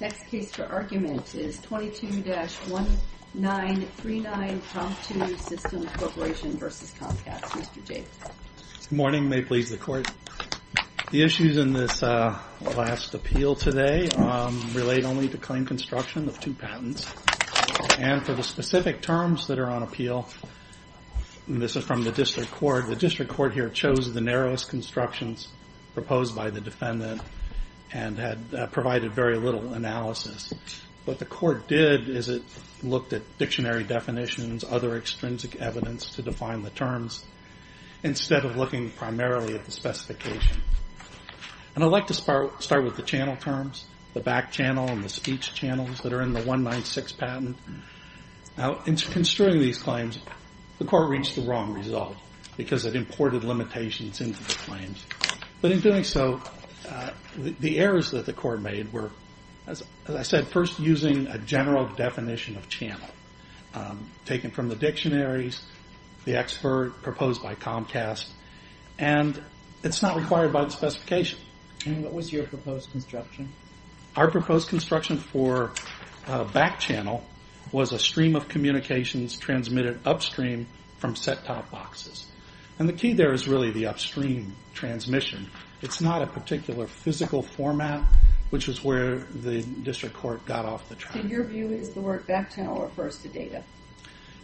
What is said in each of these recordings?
Next case for argument is 22-1939, Promptu Systems Corporation v. Comcast. Mr. Jacobs. Good morning. May it please the court. The issues in this last appeal today relate only to claim construction of two patents. And for the specific terms that are on appeal, and this is from the district court, the district court here chose the narrowest constructions proposed by the defendant and had provided very little analysis. What the court did is it looked at dictionary definitions, other extrinsic evidence to define the terms, instead of looking primarily at the specification. And I'd like to start with the channel terms, the back channel and the speech channels that are in the 196 patent. Now, in construing these claims, the court reached the wrong result because it imported limitations into the claims. But in doing so, the errors that the court made were, as I said, first using a general definition of channel, taken from the dictionaries, the expert proposed by Comcast, and it's not required by the specification. And what was your proposed construction? Our proposed construction for back channel was a stream of communications transmitted upstream from set-top boxes. And the key there is really the upstream transmission. It's not a particular physical format, which is where the district court got off the track. So your view is the word back channel refers to data?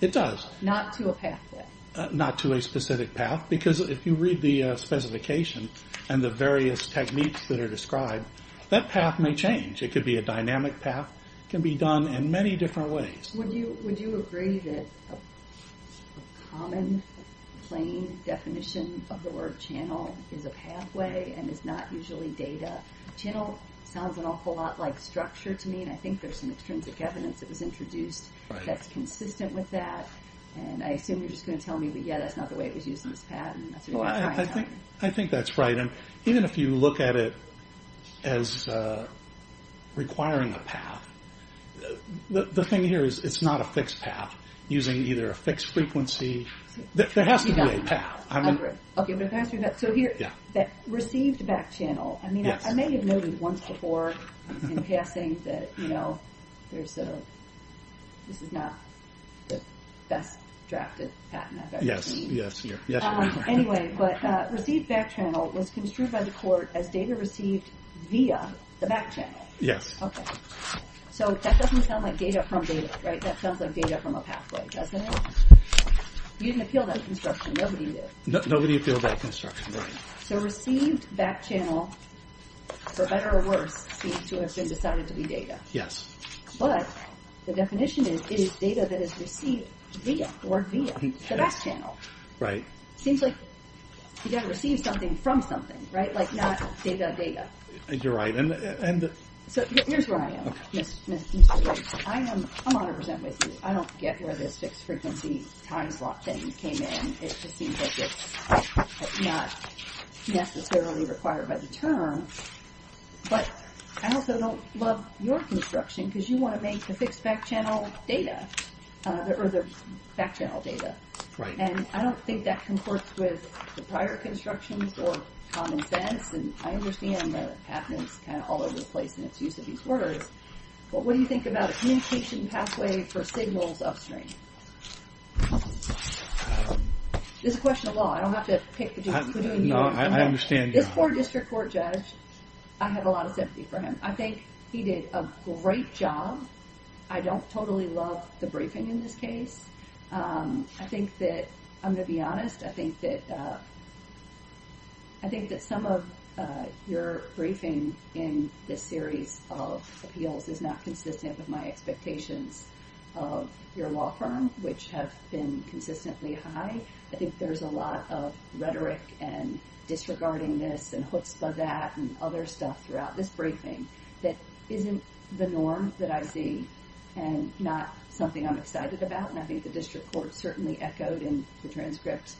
It does. Not to a pathway? Not to a specific path, because if you read the specification and the various techniques that are described, that path may change. It could be a dynamic path. It can be done in many different ways. Would you agree that a common, plain definition of the word channel is a pathway and is not usually data? Channel sounds an awful lot like structure to me, and I think there's some extrinsic evidence that was introduced that's consistent with that. And I assume you're just going to tell me, yeah, that's not the way it was used in this patent. I think that's right. And even if you look at it as requiring a path, the thing here is it's not a fixed path, using either a fixed frequency. There has to be a path. So here, received back channel. I mean, I may have noted once before in passing that, you know, this is not the best drafted patent I've ever seen. Yes, yes. Anyway, but received back channel was construed by the court as data received via the back channel. Yes. So that doesn't sound like data from data, right? That sounds like data from a pathway, doesn't it? You didn't appeal that construction. Nobody did. Nobody appealed that construction, right. So received back channel, for better or worse, seems to have been decided to be data. Yes. But the definition is data that is received via, the word via, the back channel. Right. Seems like you've got to receive something from something, right? Like not data, data. You're right. So here's where I am, Mr. Riggs. I'm honored to present with you. I don't get where this fixed frequency time slot thing came in. It just seems like it's not necessarily required by the term. But I also don't love your construction because you want to make the fixed back channel data, or the back channel data. And I don't think that concords with the prior construction for common sense. And I understand that happens kind of all over the place in its use of these words. But what do you think about a communication pathway for signals upstream? This is a question of law. I don't have to pick between you. No, I understand you. This poor district court judge, I have a lot of sympathy for him. I think he did a great job. I don't totally love the briefing in this case. I think that, I'm going to be honest, I think that some of your briefing in this series of appeals is not consistent with my expectations of your law firm, which have been consistently high. I think there's a lot of rhetoric and disregarding this and chutzpah that and other stuff throughout this briefing that isn't the norm that I see and not something I'm excited about. And I think the district court certainly echoed in the transcript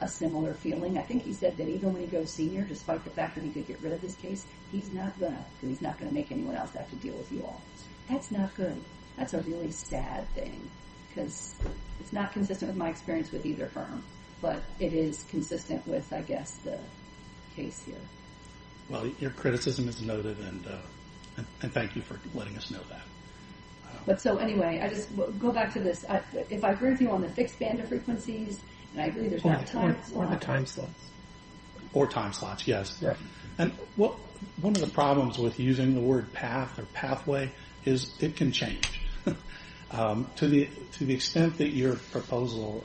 a similar feeling. I think he said that even when he goes senior, despite the fact that he did get rid of this case, he's not going to make anyone else have to deal with you all. That's not good. That's a really sad thing. Because it's not consistent with my experience with either firm. But it is consistent with, I guess, the case here. Well, your criticism is noted, and thank you for letting us know that. But so anyway, I just go back to this. If I agree with you on the fixed bandwidth frequencies, and I agree there's not time slots... Or the time slots. Or time slots, yes. And one of the problems with using the word path or pathway is it can change. To the extent that your proposal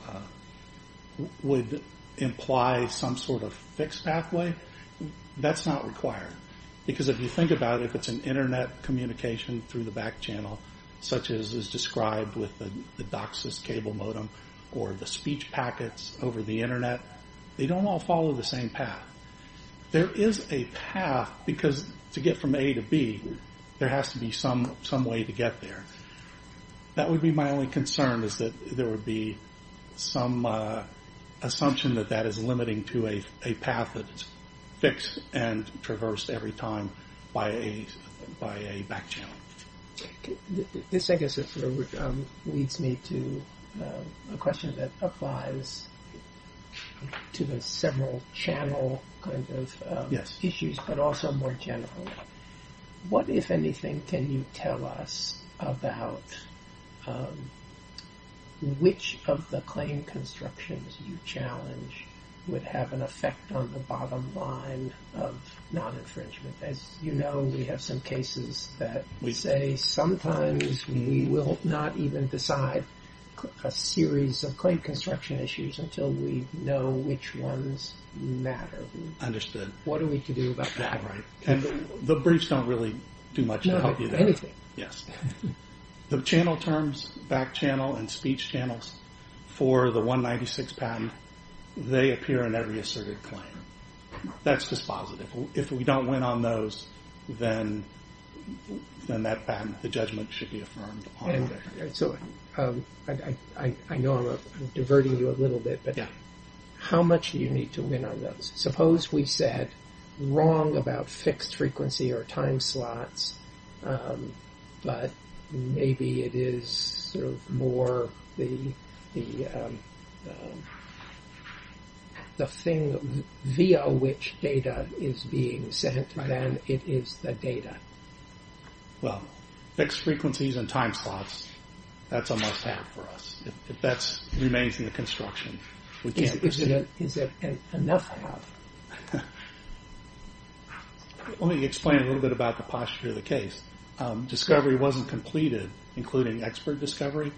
would imply some sort of fixed pathway, that's not required. Because if you think about it, if it's an Internet communication through the back channel, such as is described with the DOCSIS cable modem, or the speech packets over the Internet, they don't all follow the same path. There is a path, because to get from A to B, there has to be some way to get there. That would be my only concern, is that there would be some assumption that that is limiting to a path that is fixed and traversed every time by a back channel. This, I guess, leads me to a question that applies to the several channel kind of issues, but also more generally. What, if anything, can you tell us about which of the claim constructions you challenge would have an effect on the bottom line of non-infringement? As you know, we have some cases that say sometimes we will not even decide a series of claim construction issues until we know which ones matter. Understood. What are we to do about that? Right. And the briefs don't really do much to help you there. Anything. Yes. The channel terms, back channel and speech channels for the 196 patent, they appear in every asserted claim. That's just positive. If we don't win on those, then that patent, the judgment should be affirmed. I know I'm diverting you a little bit, but how much do you need to win on those? Suppose we said wrong about fixed frequency or time slots, but maybe it is more the thing via which data is being sent than it is the data. Well, fixed frequencies and time slots, that's almost half for us. If that remains in the construction, we can't proceed. Is it enough half? Let me explain a little bit about the posture of the case. Discovery wasn't completed, including expert discovery.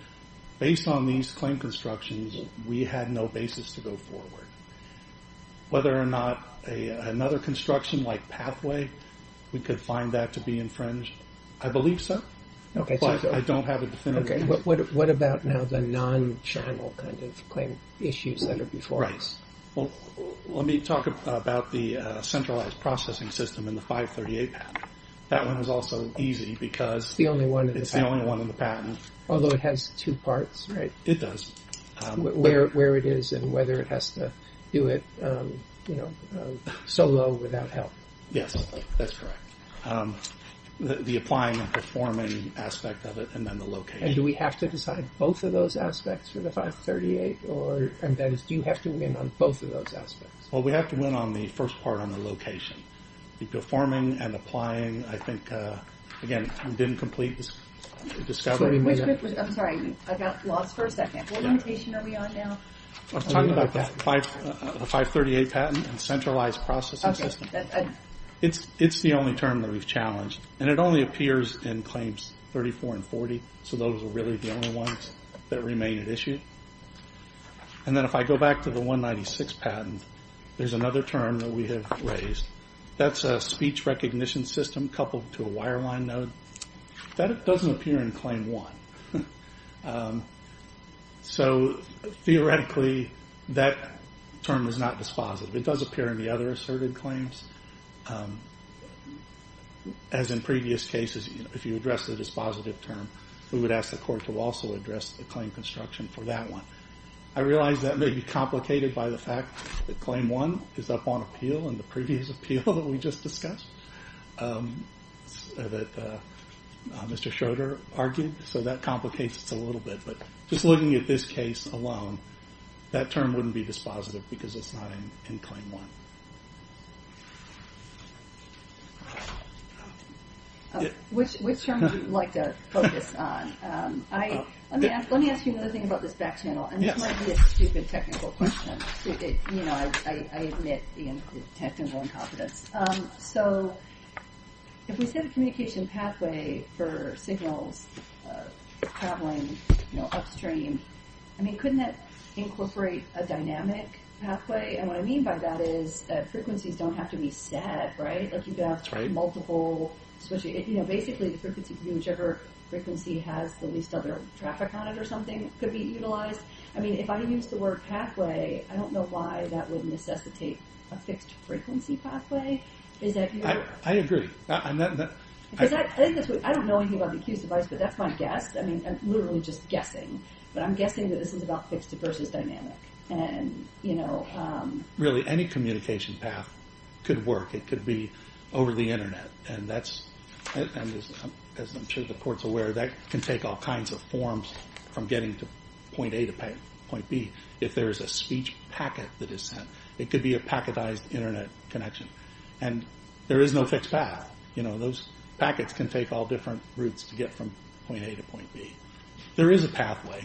Based on these claim constructions, we had no basis to go forward. Whether or not another construction like pathway, we could find that to be infringed, I believe so, but I don't have a definitive answer. What about now the non-channel claim issues that are before us? Let me talk about the centralized processing system in the 538 patent. That one is also easy because it's the only one in the patent. Although it has two parts, right? It does. Where it is and whether it has to do it solo without help. Yes, that's correct. The applying and performing aspect of it and then the location. Do we have to decide both of those aspects for the 538? That is, do you have to win on both of those aspects? We have to win on the first part on the location. The performing and applying, I think, again, we didn't complete the discovery. I'm sorry, I got lost for a second. What limitation are we on now? I'm talking about the 538 patent and centralized processing system. It's the only term that we've challenged, and it only appears in Claims 34 and 40, so those are really the only ones that remain at issue. Then if I go back to the 196 patent, there's another term that we have raised. That's a speech recognition system coupled to a wireline node. That doesn't appear in Claim 1. Theoretically, that term is not dispositive. It does appear in the other asserted claims. As in previous cases, if you address the dispositive term, we would ask the court to also address the claim construction for that one. I realize that may be complicated by the fact that Claim 1 is up on appeal in the previous appeal that we just discussed that Mr. Schroeder argued, so that complicates it a little bit. But just looking at this case alone, that term wouldn't be dispositive because it's not in Claim 1. Which term would you like to focus on? Let me ask you another thing about this back channel, and this might be a stupid technical question. I admit the technical incompetence. If we set a communication pathway for signals traveling upstream, couldn't that incorporate a dynamic pathway? What I mean by that is frequencies don't have to be set. You can have multiple switches. Basically, the frequency can be whichever frequency has the least other traffic on it or something could be utilized. If I use the word pathway, I don't know why that would necessitate a fixed frequency pathway. I agree. I don't know anything about the accused device, but that's my guess. I'm literally just guessing. But I'm guessing that this is about fixed versus dynamic. Really, any communication path could work. It could be over the internet. And as I'm sure the Court's aware, that can take all kinds of forms from getting to point A to point B. If there's a speech packet that is sent, it could be a packetized internet connection. And there is no fixed path. Those packets can take all different routes to get from point A to point B. There is a pathway.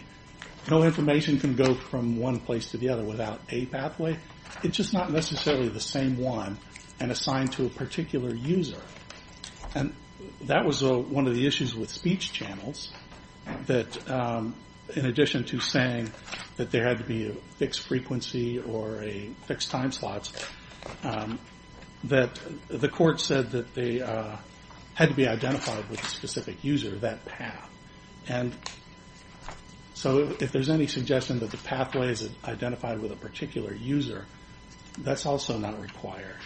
No information can go from one place to the other without a pathway. It's just not necessarily the same one and assigned to a particular user. And that was one of the issues with speech channels, that in addition to saying that there had to be a fixed frequency or a fixed time slot, that the Court said that they had to be identified with a specific user, that path. And so if there's any suggestion that the pathway is identified with a particular user, that's also not required.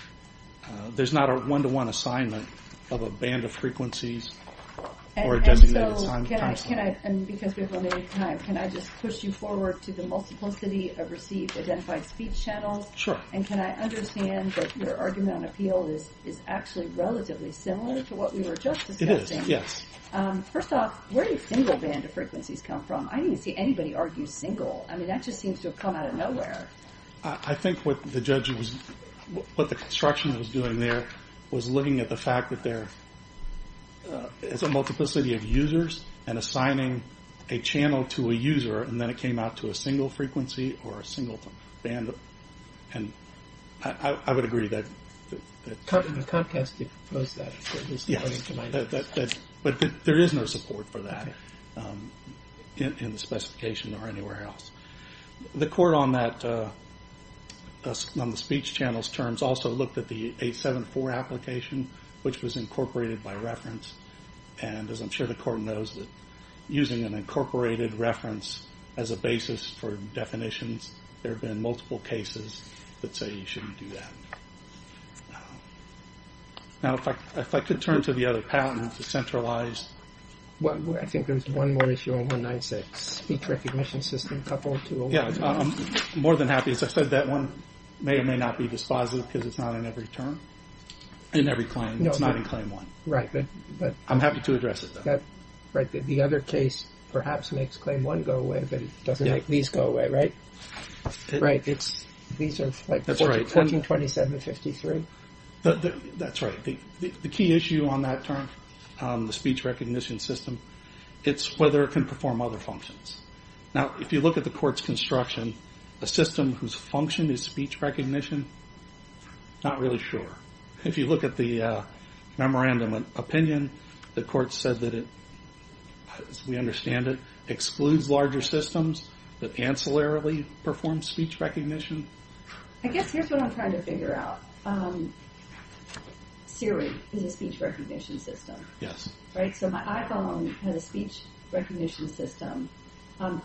There's not a one-to-one assignment of a band of frequencies or a designated time slot. And because we have limited time, can I just push you forward to the multiplicity of received identified speech channels? Sure. And can I understand that your argument on appeal is actually relatively similar to what we were just discussing? It is, yes. First off, where do single band of frequencies come from? I didn't see anybody argue single. I mean, that just seems to have come out of nowhere. I think what the judge was, what the construction was doing there was looking at the fact that there is a multiplicity of users and assigning a channel to a user, and then it came out to a single frequency or a single band. And I would agree that... In the contest, you proposed that. Yes, but there is no support for that in the specification or anywhere else. The Court on the speech channels terms also looked at the 874 application, which was incorporated by reference. And as I'm sure the Court knows, using an incorporated reference as a basis for definitions, there have been multiple cases that say you shouldn't do that. Now, if I could turn to the other patent, the centralized... I think there's one more issue on 196. Speech recognition system coupled to... Yes, I'm more than happy. As I said, that one may or may not be dispositive because it's not in every term, in every claim. It's not in claim one. I'm happy to address it, though. The other case perhaps makes claim one go away, but it doesn't make these go away, right? These are like 1427-53. That's right. The key issue on that term, the speech recognition system, it's whether it can perform other functions. Now, if you look at the Court's construction, a system whose function is speech recognition, not really sure. If you look at the memorandum of opinion, the Court said that it, as we understand it, excludes larger systems that ancillarily perform speech recognition. I guess here's what I'm trying to figure out. Siri is a speech recognition system, right? So my iPhone has a speech recognition system.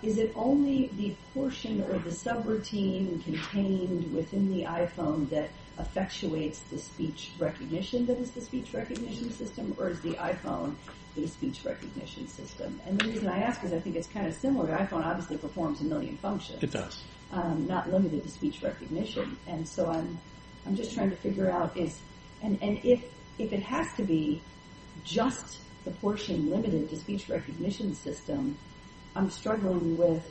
Is it only the portion or the subroutine contained within the iPhone that effectuates the speech recognition that is the speech recognition system, or is the iPhone the speech recognition system? And the reason I ask is I think it's kind of similar. The iPhone obviously performs a million functions. It does. Not limited to speech recognition. And so I'm just trying to figure out if it has to be just the portion limited to speech recognition system, I'm struggling with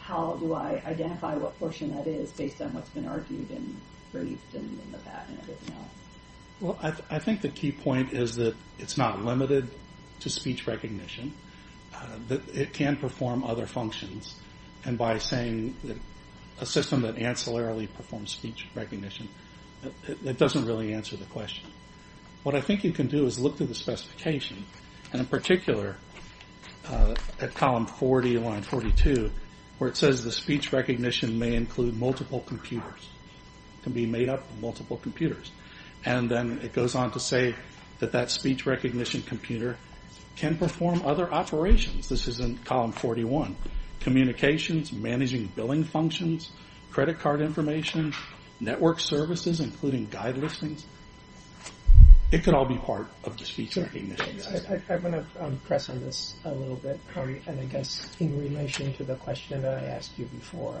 how do I identify what portion that is based on what's been argued and briefed and the fact and everything else. Well, I think the key point is that it's not limited to speech recognition. It can perform other functions. And by saying a system that ancillarily performs speech recognition, it doesn't really answer the question. What I think you can do is look through the specification, and in particular at column 40, line 42, where it says the speech recognition may include multiple computers, can be made up of multiple computers. And then it goes on to say that that speech recognition computer can perform other operations. This is in column 41. Communications, managing billing functions, credit card information, network services, including guide listings. It could all be part of the speech recognition system. I'm going to press on this a little bit, and I guess in relation to the question that I asked you before,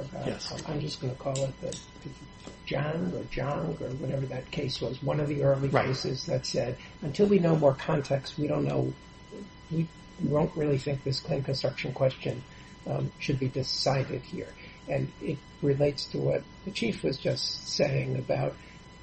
I'm just going to call it the Jung or whatever that case was, one of the early cases that said, until we know more context, we don't know, we won't really think this claim construction question should be decided here. And it relates to what the chief was just saying about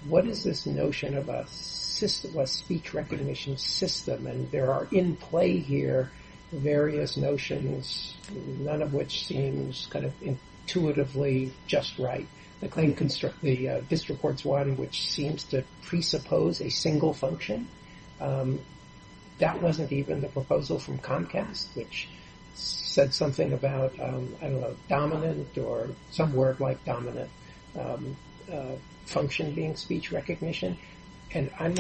what is this notion of a speech recognition system, and there are in play here various notions, none of which seems kind of intuitively just right. The claim construct, the district court's one, which seems to presuppose a single function. That wasn't even the proposal from Comcast, which said something about, I don't know, dominant, or some word like dominant function being speech recognition. And I'm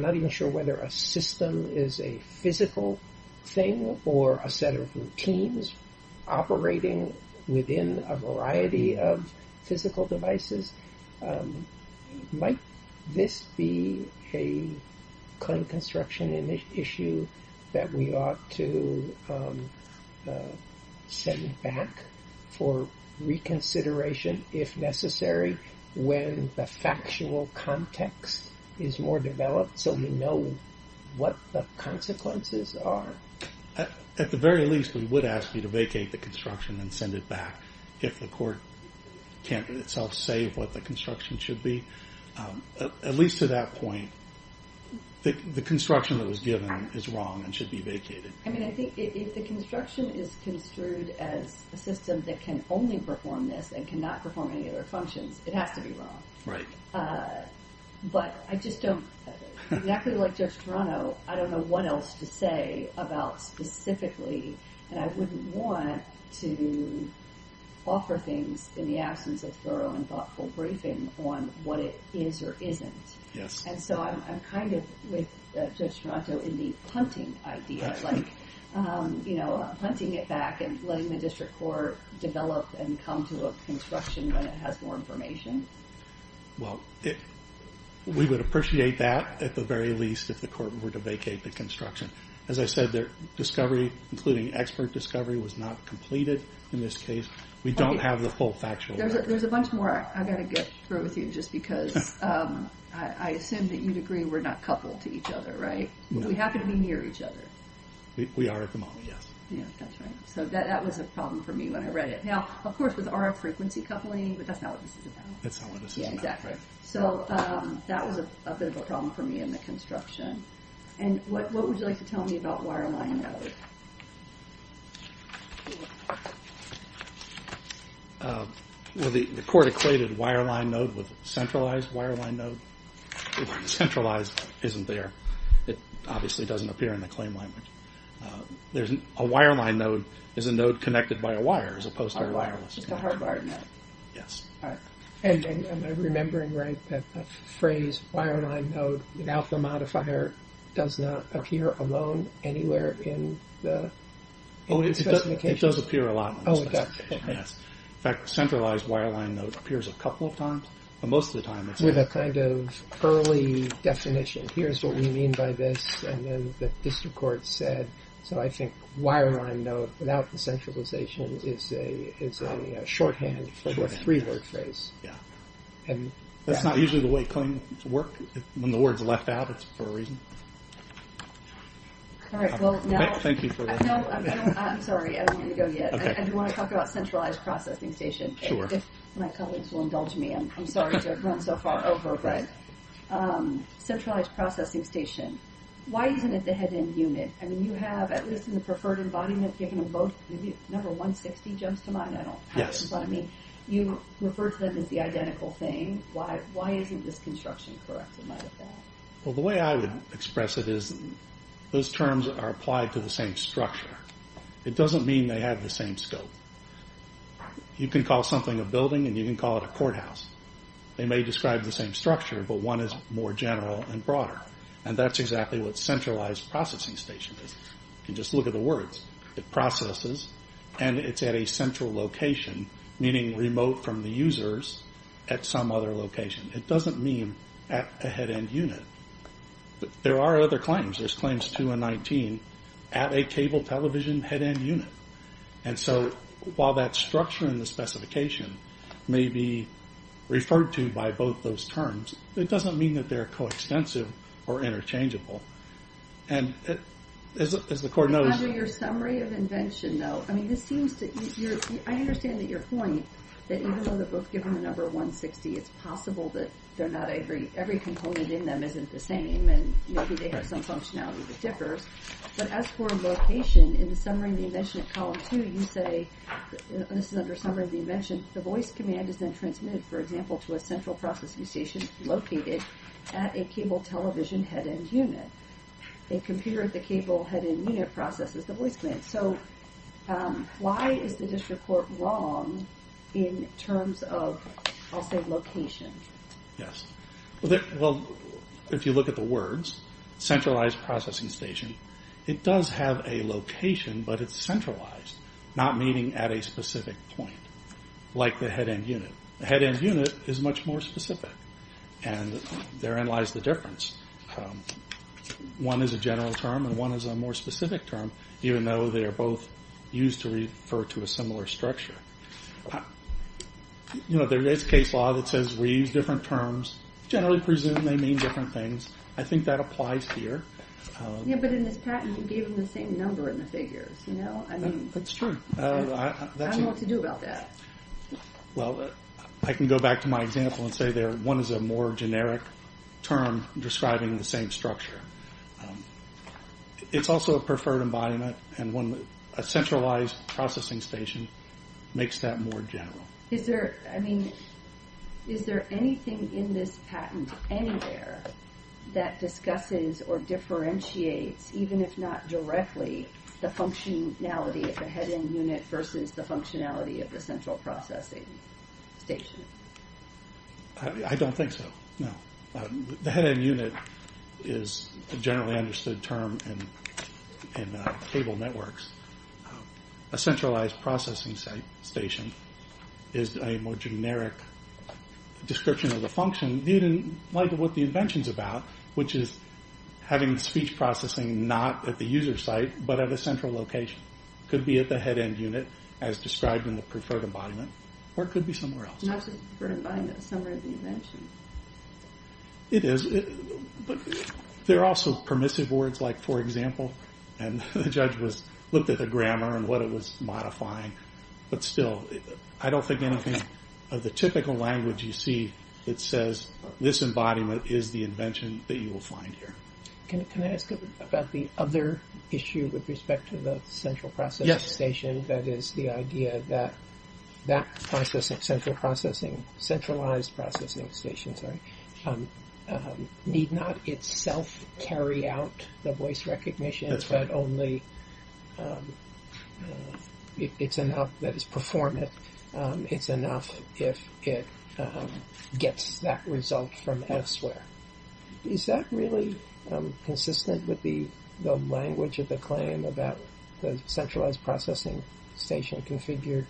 not even sure whether a system is a physical thing or a set of routines operating within a variety of physical devices. Might this be a claim construction issue that we ought to send back for reconsideration if necessary when the factual context is more developed so we know what the consequences are? At the very least, we would ask you to vacate the construction and send it back if the court can't itself say what the construction should be. At least to that point, the construction that was given is wrong and should be vacated. I think if the construction is construed as a system that can only perform this and cannot perform any other functions, it has to be wrong. But I just don't, exactly like Judge Toronto, I don't know what else to say about specifically, and I wouldn't want to offer things in the absence of thorough and thoughtful briefing on what it is or isn't. And so I'm kind of with Judge Toronto in the hunting idea, like hunting it back and letting the district court develop and come to a construction when it has more information. Well, we would appreciate that at the very least if the court were to vacate the construction. As I said, their discovery, including expert discovery, was not completed in this case. We don't have the full factual... There's a bunch more I've got to get through with you just because I assume that you'd agree we're not coupled to each other, right? We happen to be near each other. We are at the moment, yes. Yeah, that's right. So that was a problem for me when I read it. Now, of course, with RF frequency coupling, but that's not what this is about. That's not what this is about. Yeah, exactly. So that was a bit of a problem for me in the construction. And what would you like to tell me about wireline node? Well, the court equated wireline node with centralized wireline node. When centralized isn't there, it obviously doesn't appear in the claim language. A wireline node is a node connected by a wire as opposed to a wireless node. A hardwired node. All right. And am I remembering right that the phrase without the modifier does not appear alone anywhere in the specification? It does appear a lot. Oh, it does. In fact, centralized wireline node appears a couple of times, but most of the time it's not. With a kind of early definition. Here's what we mean by this. And then the district court said, so I think wireline node without the centralization is only a shorthand for the three-word phrase. Yeah. And that's not usually the way claims work. When the word's left out, it's for a reason. All right, well, now... Thank you for... No, I'm sorry. I don't want to go yet. I do want to talk about centralized processing station. Sure. My colleagues will indulge me. I'm sorry to have run so far over. But centralized processing station. Why isn't it the head end unit? I mean, you have, at least in the preferred embodiment, given both, maybe number 160 jumps to mind. I don't know what it means. I mean, you refer to them as the identical thing. Why isn't this construction correct in light of that? Well, the way I would express it is those terms are applied to the same structure. It doesn't mean they have the same scope. You can call something a building, and you can call it a courthouse. They may describe the same structure, but one is more general and broader. And that's exactly what centralized processing station is. You can just look at the words. It processes, and it's at a central location, meaning remote from the users at some other location. It doesn't mean at a head end unit. There are other claims. There's claims 2 and 19 at a cable television head end unit. And so while that structure in the specification may be referred to by both those terms, it doesn't mean that they're coextensive or interchangeable. And as the court knows... Under your summary of invention, though, I mean, this seems to... I understand that your point, that even though they're both given the number 160, it's possible that every component in them isn't the same, and maybe they have some functionality that differs. But as for location, in the summary of the invention at column 2, you say... This is under summary of the invention. The voice command is then transmitted, for example, to a central processing station located at a cable television head end unit. A computer at the cable head end unit processes the voice command. So why is the district court wrong in terms of, I'll say, location? Yes. Well, if you look at the words, centralized processing station, it does have a location, but it's centralized, not meaning at a specific point, like the head end unit. The head end unit is much more specific, and therein lies the difference. One is a general term, and one is a more specific term, even though they are both used to refer to a similar structure. You know, there is a case law that says we use different terms, generally presume they mean different things. I think that applies here. Yeah, but in this patent, you gave them the same number in the figures, you know? That's true. I don't know what to do about that. Well, I can go back to my example and say one is a more generic term describing the same structure. It's also a preferred embodiment, and a centralized processing station makes that more general. I mean, is there anything in this patent anywhere that discusses or differentiates, even if not directly, the functionality of the head end unit versus the functionality of the central processing station? I don't think so, no. The head end unit is a generally understood term in cable networks. A centralized processing station is a more generic description of the function, even like what the invention is about, which is having speech processing not at the user site, but at a central location. It could be at the head end unit, as described in the preferred embodiment, or it could be somewhere else. It's not just the preferred embodiment, it's somewhere in the invention. It is, but there are also permissive words, like for example, and the judge looked at the grammar and what it was modifying, but still, I don't think anything of the typical language you see that says this embodiment is the invention that you will find here. Can I ask about the other issue with respect to the central processing station, that is, the idea that that central processing, centralized processing station, sorry, need not itself carry out the voice recognition, but only it's enough that it's performant. It's enough if it gets that result from elsewhere. Is that really consistent with the language of the claim about the centralized processing station configured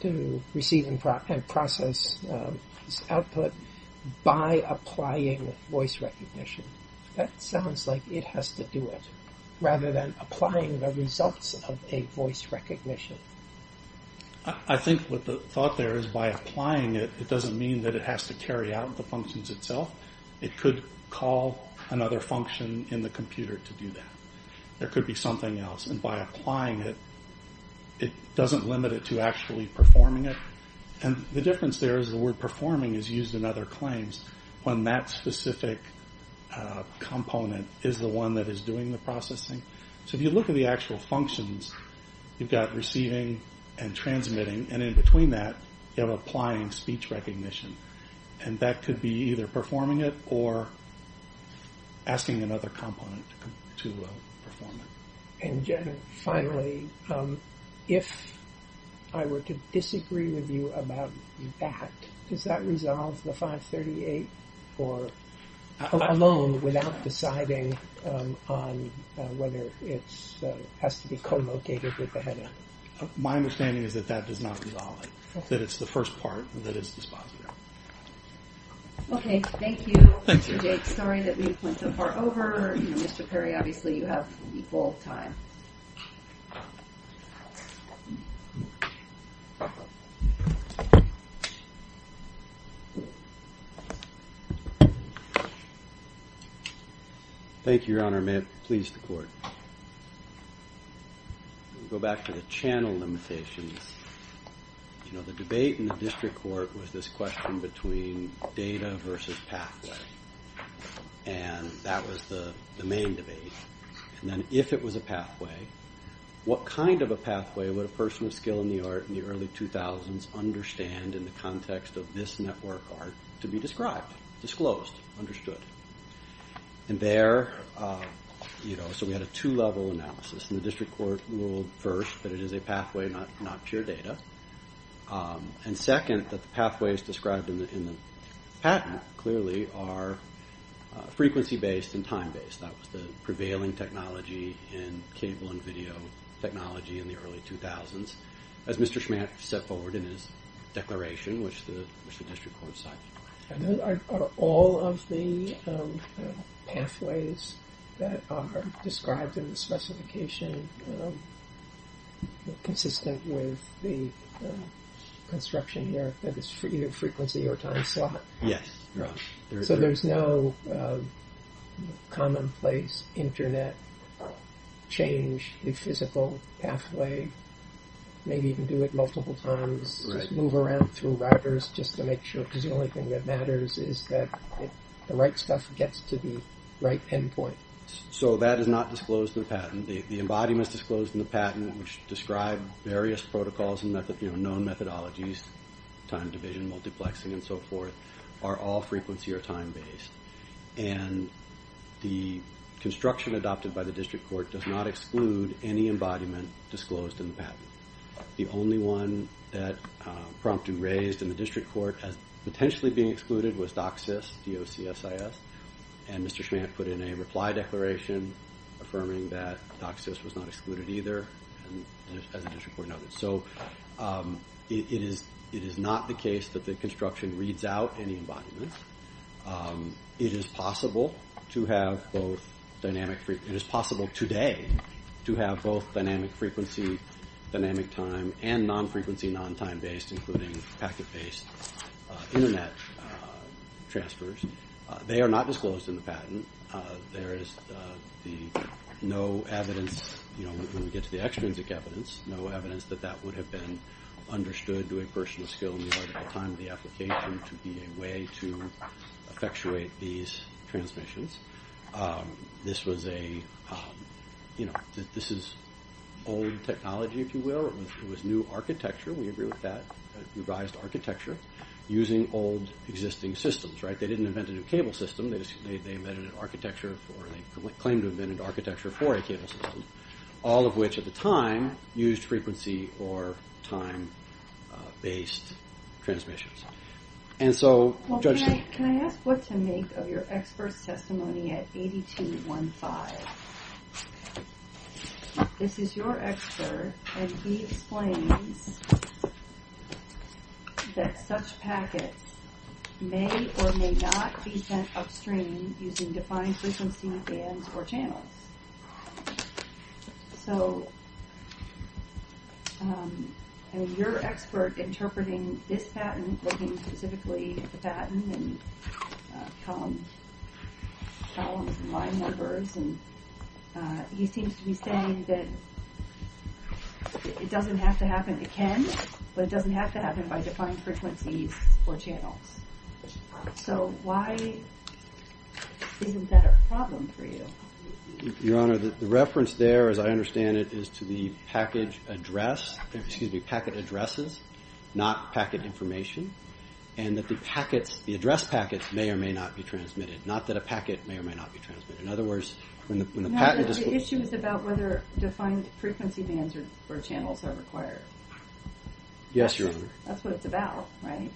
to receive and process output by applying voice recognition? That sounds like it has to do it, rather than applying the results of a voice recognition. I think what the thought there is, by applying it, it doesn't mean that it has to carry out the functions itself. It could call another function in the computer to do that. There could be something else, and by applying it, it doesn't limit it to actually performing it. The difference there is the word performing is used in other claims when that specific component is the one that is doing the processing. If you look at the actual functions, you've got receiving and transmitting, and in between that, you have applying speech recognition. That could be either performing it or asking another component to perform it. Finally, if I were to disagree with you about that, does that resolve the 538 alone without deciding on whether it has to be co-located with the header? My understanding is that that does not resolve it, that it's the first part that is dispositive. Okay. Thank you, Mr. Jake. Sorry that we went so far over. Mr. Perry, obviously, you have equal time. Thank you, Your Honor. May it please the Court. We'll go back to the channel limitations. The debate in the district court was this question between data versus pathway, and that was the main debate. And then if it was a pathway, what kind of a pathway would a person of skill in the art in the early 2000s understand in the context of this network art to be described, disclosed, understood? So we had a two-level analysis, and the district court ruled first that it is a pathway, not pure data, and second that the pathways described in the patent clearly are frequency-based and time-based. That was the prevailing technology in cable and video technology in the early 2000s, as Mr. Schmatt set forward in his declaration, which the district court cited. Are all of the pathways that are described in the specification consistent with the construction here, that it's either frequency or time slot? Yes, Your Honor. So there's no commonplace Internet change, a physical pathway, maybe you can do it multiple times, move around through routers just to make sure, because the only thing that matters is that the right stuff gets to the right pinpoint. So that is not disclosed in the patent. The embodiments disclosed in the patent which describe various protocols and known methodologies, time division, multiplexing, and so forth, are all frequency or time-based. And the construction adopted by the district court does not exclude any embodiment disclosed in the patent. The only one that Prompton raised in the district court as potentially being excluded was DOCSIS, D-O-C-S-I-S, and Mr. Schmatt put in a reply declaration affirming that DOCSIS was not excluded either as a district court noted. So it is not the case that the construction reads out any embodiments. It is possible to have both dynamic frequency, it is possible today to have both dynamic frequency, dynamic time, and non-frequency, non-time-based, including packet-based internet transfers. They are not disclosed in the patent. There is no evidence, when we get to the extrinsic evidence, no evidence that that would have been understood to a person of skill more at the time of the application to be a way to effectuate these transmissions. This is old technology, if you will. It was new architecture, we agree with that, revised architecture, using old existing systems. They didn't invent a new cable system, they claimed to have invented architecture for a cable system, all of which at the time used frequency or time-based transmissions. Can I ask what to make of your expert's testimony at 8215? This is your expert, and he explains that such packets may or may not be sent upstream using defined frequency bands or channels. So, your expert interpreting this patent, looking specifically at the patent, and columns and line numbers, he seems to be saying that it doesn't have to happen, it can, but it doesn't have to happen by defined frequencies or channels. So, why isn't that a problem for you? Your Honor, the reference there, as I understand it, is to the packet addresses, not packet information, and that the address packets may or may not be transmitted. Not that a packet may or may not be transmitted. In other words, when the packet... No, the issue is about whether defined frequency bands or channels are required. Yes, Your Honor. That's what it's about, right?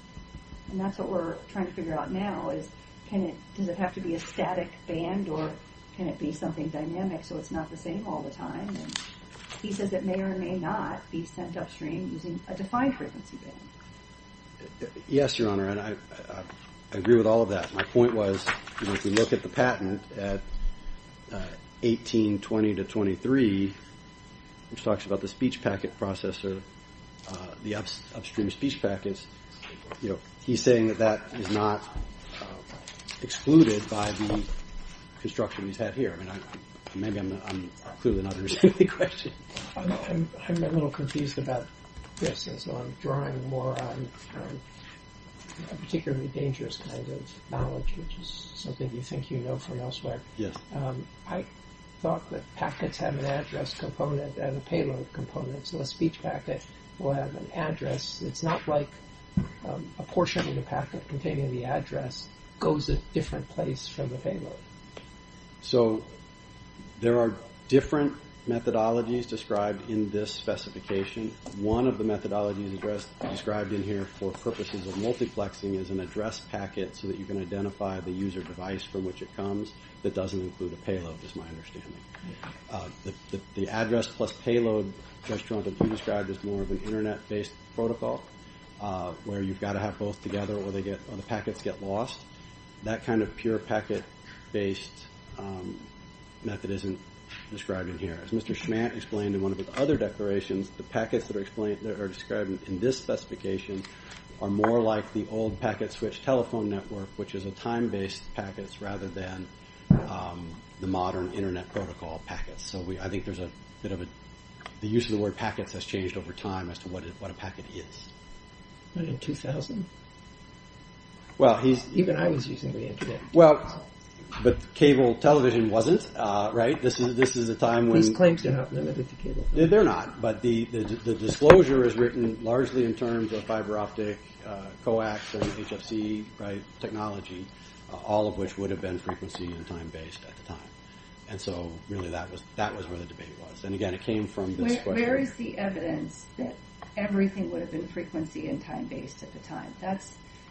And that's what we're trying to figure out now, is does it have to be a static band, or can it be something dynamic so it's not the same all the time? He says it may or may not be sent upstream using a defined frequency band. Yes, Your Honor, and I agree with all of that. My point was, if we look at the patent at 1820-23, which talks about the speech packet processor, the upstream speech packets, he's saying that that is not excluded by the construction he's had here. Maybe I'm clueless enough to answer the question. I'm a little confused about this. I'm drawing more on a particularly dangerous kind of knowledge, which is something you think you know from elsewhere. I thought that packets have an address component and a payload component, so a speech packet will have an address. It's not like a portion of the packet containing the address goes a different place from the payload. So there are different methodologies described in this specification. One of the methodologies described in here for purposes of multiplexing is an address packet so that you can identify the user device from which it comes that doesn't include a payload, is my understanding. The address plus payload, Judge Toronto, you described as more of an Internet-based protocol where you've got to have both together or the packets get lost. That kind of pure packet-based method isn't described in here. As Mr. Schmant explained in one of his other declarations, the packets that are described in this specification are more like the old packet switch telephone network, which is a time-based packet rather than the modern Internet protocol packets. So I think the use of the word packets has changed over time as to what a packet is. In 2000? Even I was using the Internet. But cable television wasn't, right? These claims are not limited to cable television. They're not, but the disclosure is written largely in terms of fiber-optic coax and HFC technology, all of which would have been frequency- and time-based at the time. So really that was where the debate was. And again, it came from this question. Where is the evidence that everything would have been frequency- and time-based at the time?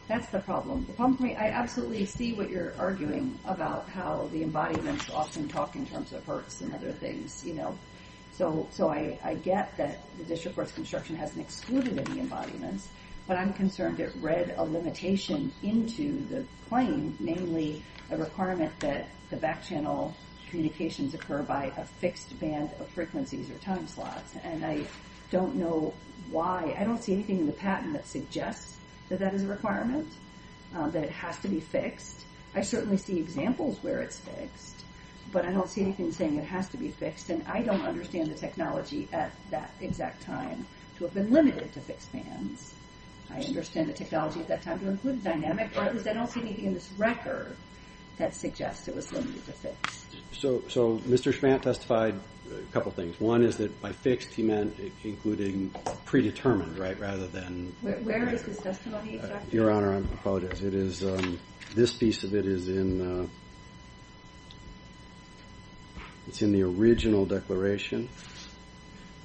That's the problem. The problem for me, I absolutely see what you're arguing about how the embodiments often talk in terms of hertz and other things. So I get that the District Courts construction hasn't excluded any embodiments, but I'm concerned it read a limitation into the claim, namely a requirement that the back-channel communications occur by a fixed band of frequencies or time slots. And I don't know why. I don't see anything in the patent that suggests that that is a requirement, that it has to be fixed. I certainly see examples where it's fixed, but I don't see anything saying it has to be fixed. And I don't understand the technology at that exact time to have been limited to fixed bands. I understand the technology at that time to include dynamic, but I don't see anything in this record that suggests it was limited to fixed. So Mr. Schvant testified a couple things. One is that by fixed he meant including predetermined rather than... Where is this testimony exactly? Your Honor, I apologize. This piece of it is in the original declaration,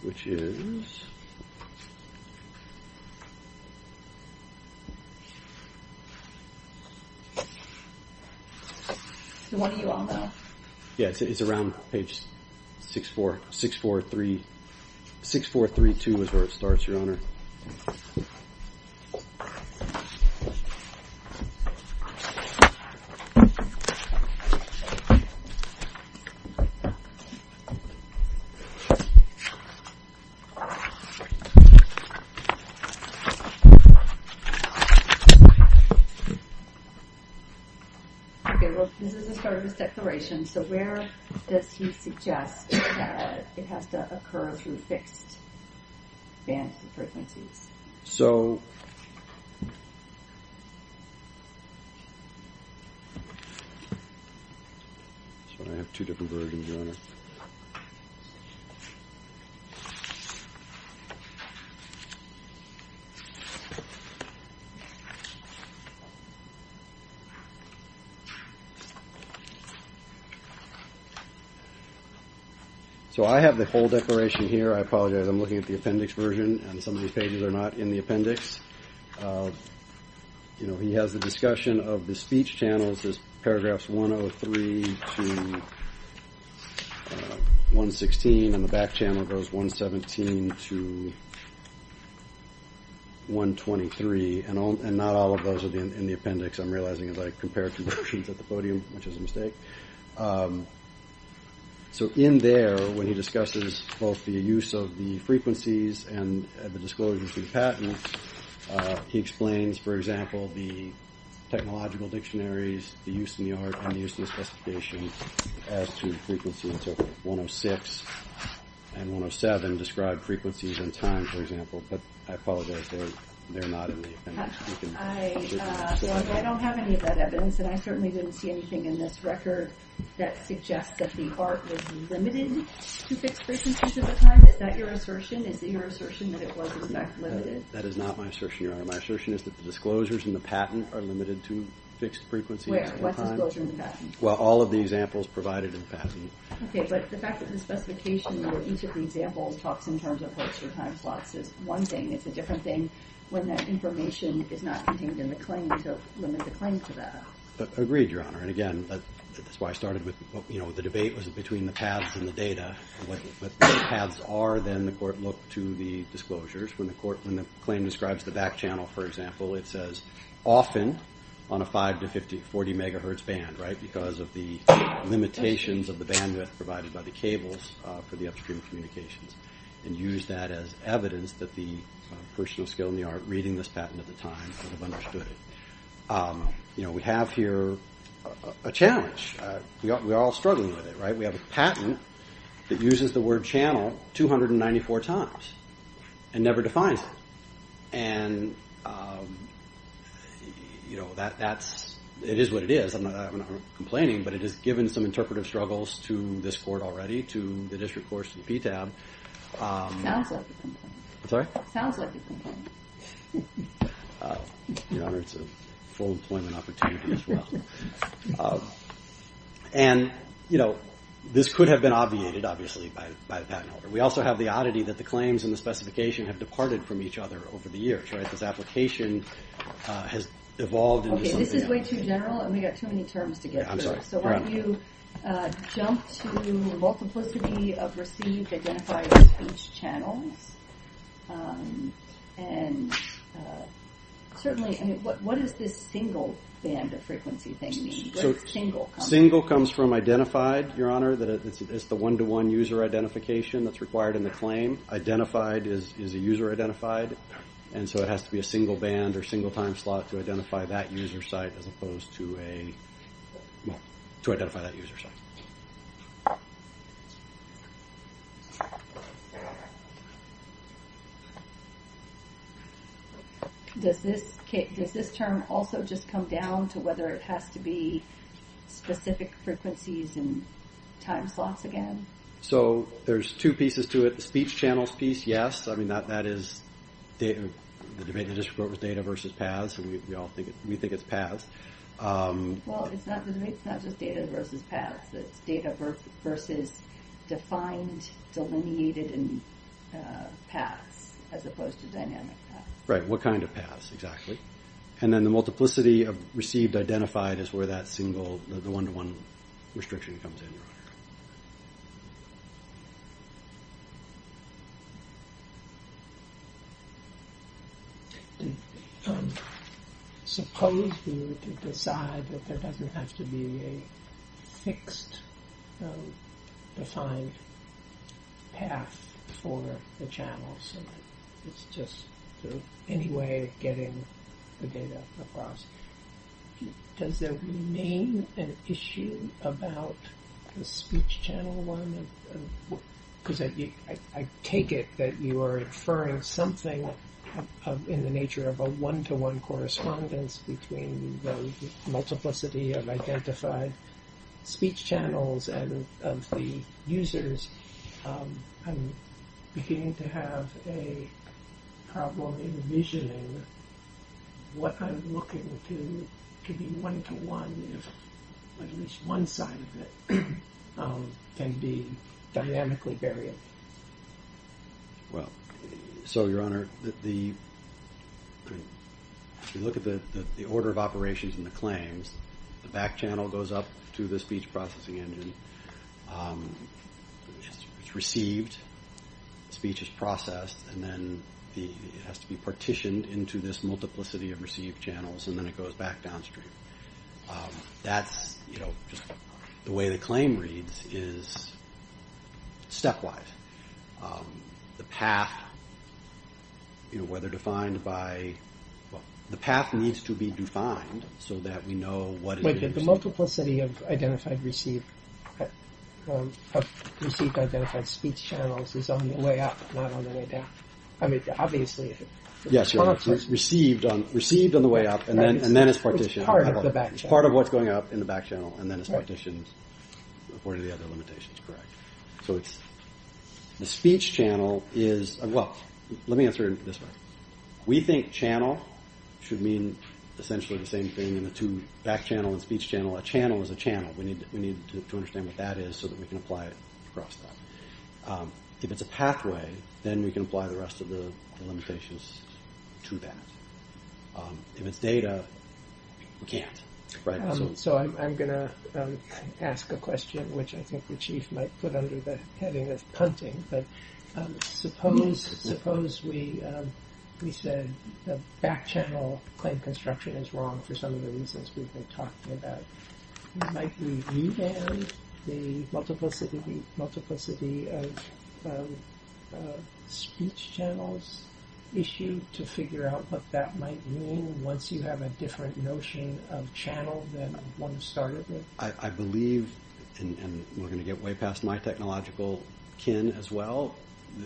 which is... One of you all know. Yeah, it's around page 6432 is where it starts, Your Honor. Okay, well, this is the start of his declaration, so where does he suggest that it has to occur through fixed bands and frequencies? So... I have two different versions, Your Honor. So I have the whole declaration here. I apologize. I'm looking at the appendix version, and some of these pages are not in the appendix. He has the discussion of the speech channels. There's paragraphs 103 to 116, and the back channel goes 117 to 123, and not all of those are in the appendix, I'm realizing, as I compare conversions at the podium, which is a mistake. So in there, when he discusses both the use of the frequencies and the disclosures of the patents, he explains, for example, the technological dictionaries, the use in the art, and the use in the specifications as to frequency interval. 106 and 107 describe frequencies and time, for example, but I apologize, they're not in the appendix. I don't have any of that evidence, and I certainly didn't see anything in this record that suggests that the art was limited to fixed frequencies at the time. Is that your assertion? Is it your assertion that it was, in fact, limited? That is not my assertion, Your Honor. My assertion is that the disclosures in the patent are limited to fixed frequencies. Where? What's the disclosure in the patent? Well, all of the examples provided in the patent. Okay, but the fact that the specification where each of the examples talks in terms of what's your time slots is one thing. It's a different thing when that information is not contained in the claim to limit the claim to that. Agreed, Your Honor, and again, that's why I started with the debate was between the paths and the data. What the paths are, then the court looked to the disclosures. When the claim describes the back channel, for example, it says often on a 5 to 40 megahertz band, right, because of the limitations of the bandwidth provided by the cables for the upstream communications, and used that as evidence that the person of skill in the art reading this patent at the time would have understood it. You know, we have here a challenge. We are all struggling with it, right? We have a patent that uses the word channel 294 times and never defines it. And, you know, it is what it is. I'm not complaining, but it has given some interpretive struggles to this court already, to the district courts, to the PTAB. Sounds like a complaint. I'm sorry? Sounds like a complaint. Your Honor, it's a full employment opportunity as well. And, you know, this could have been obviated, obviously, by the patent holder. We also have the oddity that the claims and the specification have departed from each other over the years, right? This application has evolved into something else. Okay, this is way too general, and we've got too many terms to get through. I'm sorry. So why don't you jump to the multiplicity of received identified speech channels, and certainly, I mean, what does this single band of frequency thing mean? What does single come from? Single comes from identified, Your Honor, that it's the one-to-one user identification that's required in the claim. Identified is a user-identified, and so it has to be a single band or single time slot to identify that user site as opposed to a, well, to identify that user site. Does this term also just come down to whether it has to be specific frequencies and time slots again? So there's two pieces to it. The speech channels piece, yes. I mean, that is the debate in the district court was data versus paths, and we all think it's paths. Well, it's not just data versus paths. It's data versus defined, delineated paths as opposed to dynamic paths. Right, what kind of paths, exactly. And then the multiplicity of received identified is where that single, the one-to-one restriction comes in. Suppose we were to decide that there doesn't have to be a fixed defined path for the channels. It's just any way of getting the data across. Does there remain an issue about the speech channel one? Because I take it that you are inferring something in the nature of a one-to-one correspondence between the multiplicity of identified speech channels and of the users. I'm beginning to have a problem envisioning what I'm looking to be one-to-one if at least one side of it can be dynamically variable. Well, so Your Honor, if you look at the order of operations and the claims, the back channel goes up to the speech processing engine. It's received, speech is processed, and then it has to be partitioned into this multiplicity of received channels, and then it goes back downstream. That's, you know, the way the claim reads is stepwise. The path, you know, whether defined by, well, the path needs to be defined so that we know what is being received. Wait, the multiplicity of identified received, of received identified speech channels is on the way up, not on the way down. I mean, obviously, if it's one of those... Yes, Your Honor, it's received on the way up, and then it's partitioned. It's part of the back channel. Part of what's going up in the back channel, and then it's partitioned according to the other limitations, correct. The speech channel is, well, let me answer it this way. We think channel should mean essentially the same thing in the two, back channel and speech channel. A channel is a channel. We need to understand what that is so that we can apply it across that. If it's a pathway, then we can apply the rest of the limitations to that. If it's data, we can't, right? So I'm going to ask a question, which I think the Chief might put under the heading of punting, but suppose we said the back channel claim construction is wrong for some of the reasons we've been talking about. Might we revamp the multiplicity of speech channels issue to figure out what that might mean once you have a different notion of channel than one started with? I believe, and we're going to get way past my technological kin as well,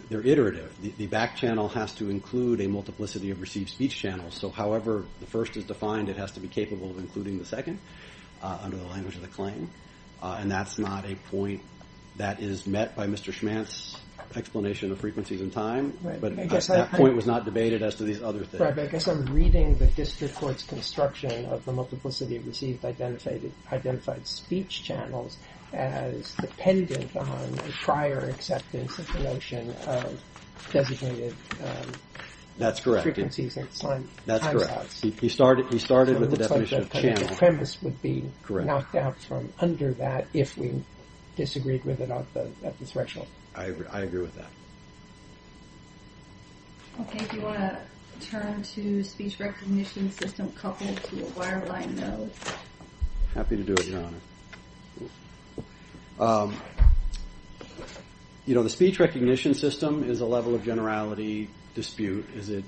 they're iterative. The back channel has to include a multiplicity of received speech channels. So however the first is defined, it has to be capable of including the second under the language of the claim, and that's not a point that is met by Mr. Schmantz's explanation of frequencies and time. But that point was not debated as to these other things. Right, but I guess I'm reading the district court's construction of the multiplicity of received identified speech channels as dependent on prior acceptance of the notion of designated frequencies and time slots. That's correct. He started with the definition of channel. It looks like the premise would be knocked out from under that if we disagreed with it at the threshold. I agree with that. Okay, if you want to turn to speech recognition system coupled to a wireline node. Happy to do it, Your Honor. You know, the speech recognition system is a level of generality dispute. Is it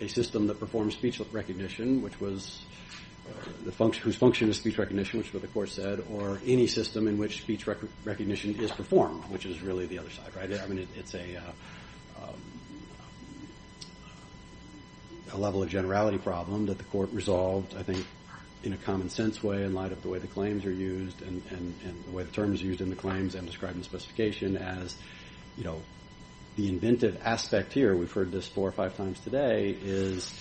a system that performs speech recognition, whose function is speech recognition, which is what the court said, or any system in which speech recognition is performed, which is really the other side. I mean, it's a level of generality problem that the court resolved, I think, in a common sense way in light of the way the claims are used and the way the terms are used in the claims and described in the specification as, you know, the inventive aspect here. We've heard this four or five times today, is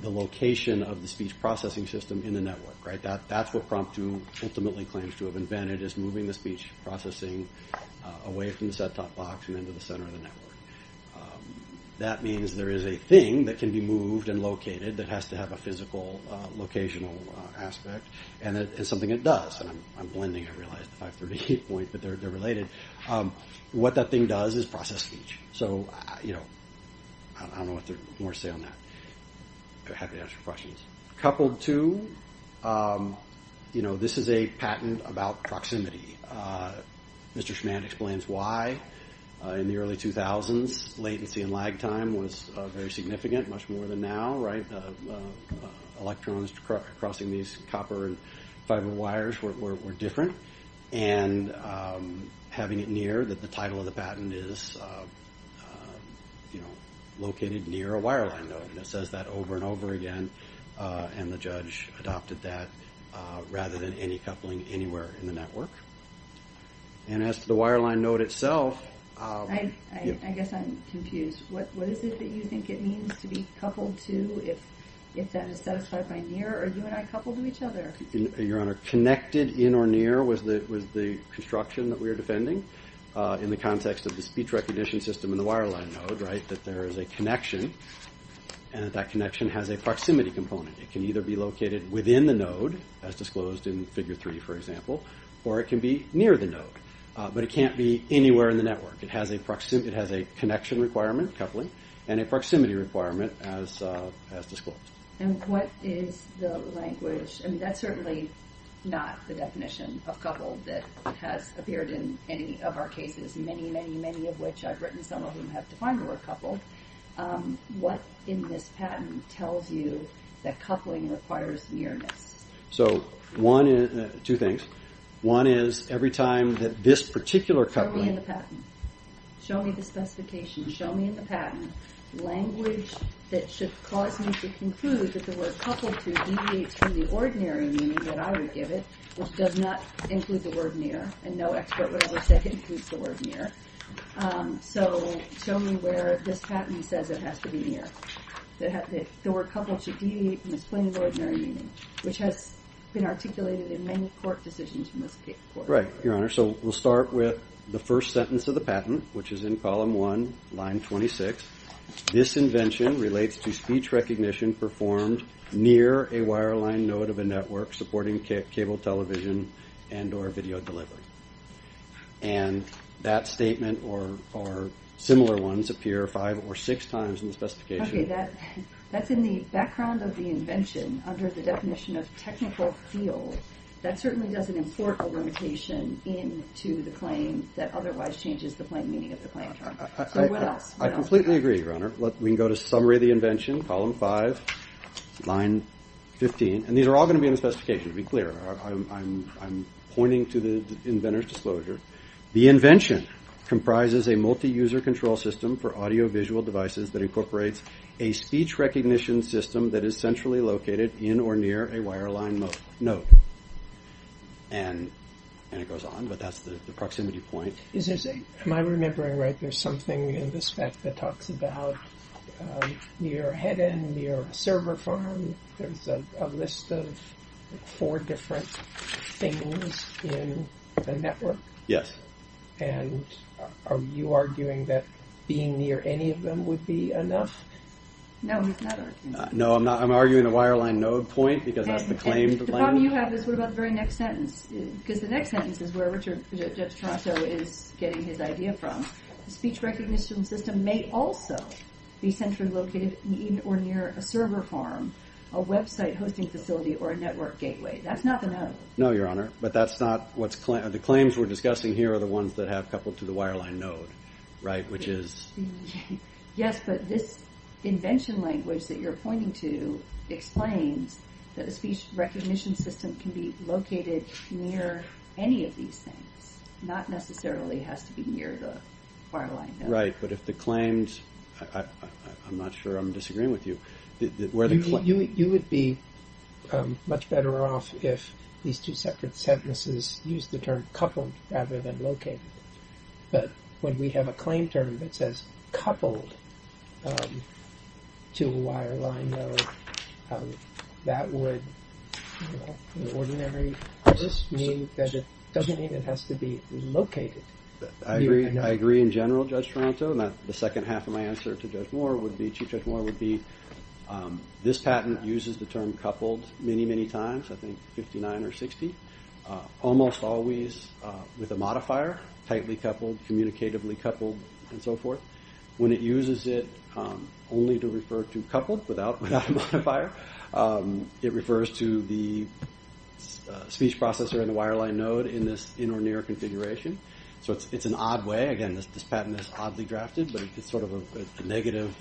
the location of the speech processing system in the network, right? That's what prompt to ultimately claims to have invented, is moving the speech processing away from the set-top box and into the center of the network. That means there is a thing that can be moved and located that has to have a physical locational aspect, and it's something it does. And I'm blending, I realize, the 538 point, but they're related. What that thing does is process speech. So, you know, I don't know what more to say on that. Happy to answer questions. Coupled to, you know, this is a patent about proximity. Mr. Schmant explains why in the early 2000s, latency and lag time was very significant, much more than now, right? Electrons crossing these copper and fiber wires were different. And having it near, that the title of the patent is, you know, located near a wireline node, and it says that over and over again, and the judge adopted that rather than any coupling anywhere in the network. And as to the wireline node itself... I guess I'm confused. What is it that you think it means to be coupled to, if that is satisfied by near, or are you and I coupled to each other? Your Honor, connected in or near was the construction that we were defending in the context of the speech recognition system and the wireline node, right? and that that connection has a proximity component. It can either be located within the node, as disclosed in Figure 3, for example, or it can be near the node. But it can't be anywhere in the network. It has a connection requirement, coupling, and a proximity requirement as disclosed. And what is the language... I mean, that's certainly not the definition of coupled that has appeared in any of our cases, many, many, many of which I've written, some of whom have defined were coupled. What in this patent tells you that coupling requires nearness? So, two things. One is, every time that this particular coupling... Show me in the patent. Show me the specification. Show me in the patent language that should cause me to conclude that the word coupled to deviates from the ordinary meaning that I would give it, which does not include the word near, and no expert would ever say it includes the word near. So, show me where this patent says it has to be near. The word coupled should deviate from its plain ordinary meaning, which has been articulated in many court decisions in this court. Right, Your Honor. So, we'll start with the first sentence of the patent, which is in column one, line 26. This invention relates to speech recognition performed near a wireline node of a network supporting cable television and or video delivery. And that statement or similar ones appear five or six times in the specification. Okay, that's in the background of the invention under the definition of technical field. That certainly doesn't import a limitation into the claim that otherwise changes the plain meaning of the claim term. So, what else? I completely agree, Your Honor. We can go to summary of the invention, column five, line 15. And these are all going to be in the specification, to be clear. I'm pointing to the inventor's disclosure. The invention comprises a multi-user control system for audio-visual devices that incorporates a speech recognition system that is centrally located in or near a wireline node. And it goes on, but that's the proximity point. Am I remembering right? There's something in the spec that talks about near a head end, near a server farm. There's a list of four different things in the network. Yes. And are you arguing that being near any of them would be enough? No, he's not arguing that. No, I'm arguing the wireline node point because that's the claim. The problem you have is, what about the very next sentence? Because the next sentence is where Judge Tarasso is getting his idea from. Speech recognition system may also be centrally located in or near a server farm, a website hosting facility, or a network gateway. That's not the node. No, Your Honor. But that's not what's claimed. The claims we're discussing here are the ones that have coupled to the wireline node, right? Which is... Yes, but this invention language that you're pointing to explains that a speech recognition system can be located near any of these things. Not necessarily has to be near the wireline node. Right, but if the claims... I'm not sure I'm disagreeing with you. You would be much better off if these two separate sentences used the term coupled rather than located. But when we have a claim term that says coupled to a wireline node, that would, in the ordinary, just mean that it doesn't even have to be located. I agree in general, Judge Tarasso, and the second half of my answer to Judge Moore would be, Chief Judge Moore would be, this patent uses the term coupled many, many times. I think 59 or 60. Almost always with a modifier. Tightly coupled, communicatively coupled, and so forth. When it uses it only to refer to coupled without a modifier, it refers to the speech processor in the wireline node in this in or near configuration. So it's an odd way. Again, this patent is oddly drafted, but it's sort of a negative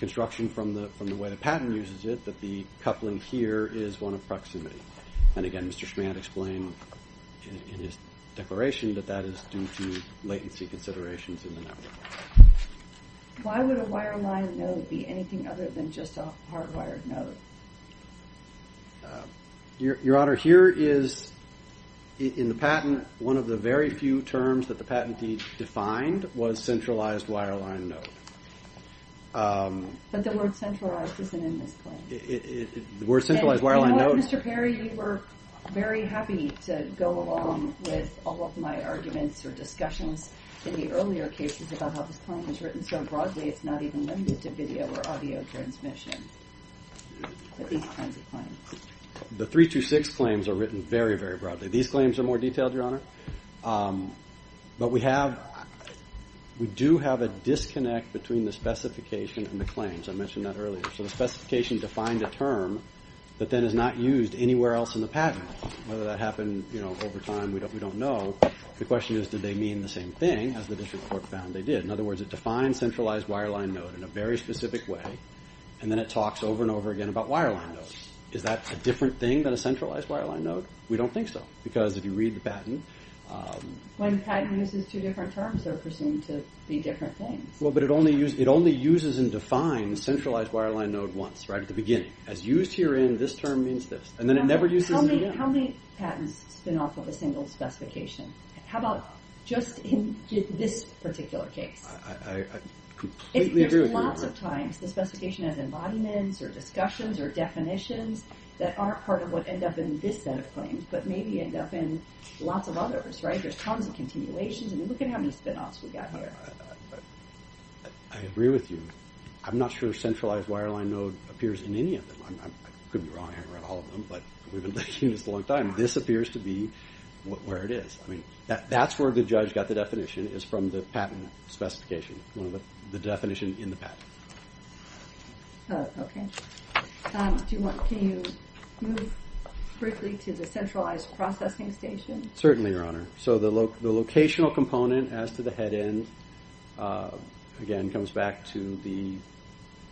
construction from the way the patent uses it that the coupling here is one of proximity. And again, Mr. Schmandt explained in his declaration that that is due to latency considerations in the network. Why would a wireline node be anything other than just a hardwired node? Your Honor, here is, in the patent, one of the very few terms that the patentee defined was centralized wireline node. But the word centralized isn't in this claim. The word centralized wireline node... And you know what, Mr. Perry, you were very happy to go along with all of my arguments or discussions in the earlier cases about how this claim was written so broadly it's not even limited to video or audio transmission. But these kinds of claims... The 326 claims are written very, very broadly. These claims are more detailed, Your Honor. But we do have a disconnect between the specification and the claims. I mentioned that earlier. So the specification defined a term that then is not used anywhere else in the patent. Whether that happened over time, we don't know. The question is, did they mean the same thing as the district court found they did? In other words, it defines centralized wireline node in a very specific way, and then it talks over and over again about wireline nodes. Is that a different thing than a centralized wireline node? We don't think so. Because if you read the patent... When a patent uses two different terms, they're presumed to be different things. Well, but it only uses and defines centralized wireline node once, right at the beginning. As used herein, this term means this. And then it never uses it again. How many patents spin off of a single specification? How about just in this particular case? I completely agree with you, Your Honor. There's lots of times the specification has embodiments or discussions or definitions that aren't part of what end up in this set of claims, but maybe end up in lots of others, right? There's tons of continuations. I mean, look at how many spin-offs we got here. I agree with you. I'm not sure centralized wireline node appears in any of them. I could be wrong. I haven't read all of them. But we've been looking at this a long time. This appears to be where it is. I mean, that's where the judge got the definition, is from the patent specification, the definition in the patent. Okay. Can you move briefly to the centralized processing station? Certainly, Your Honor. So the locational component as to the head end, again, comes back to the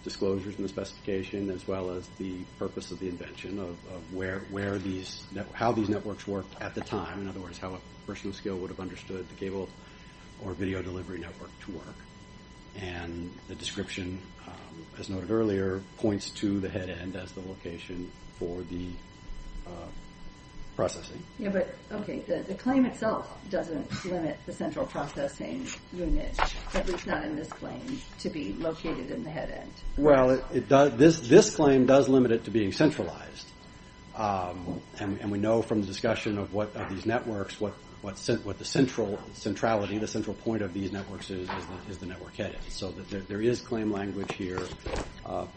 disclosures and the specification as well as the purpose of the invention of how these networks worked at the time. In other words, how a person of skill would have understood the cable or video delivery network to work. And the description, as noted earlier, points to the head end as the location for the processing. Yeah, but, okay, the claim itself doesn't limit the central processing unit, at least not in this claim, to be located in the head end. Well, this claim does limit it to being centralized. And we know from the discussion of these networks what the centrality, the central point of these networks is, is the network head end. So there is claim language here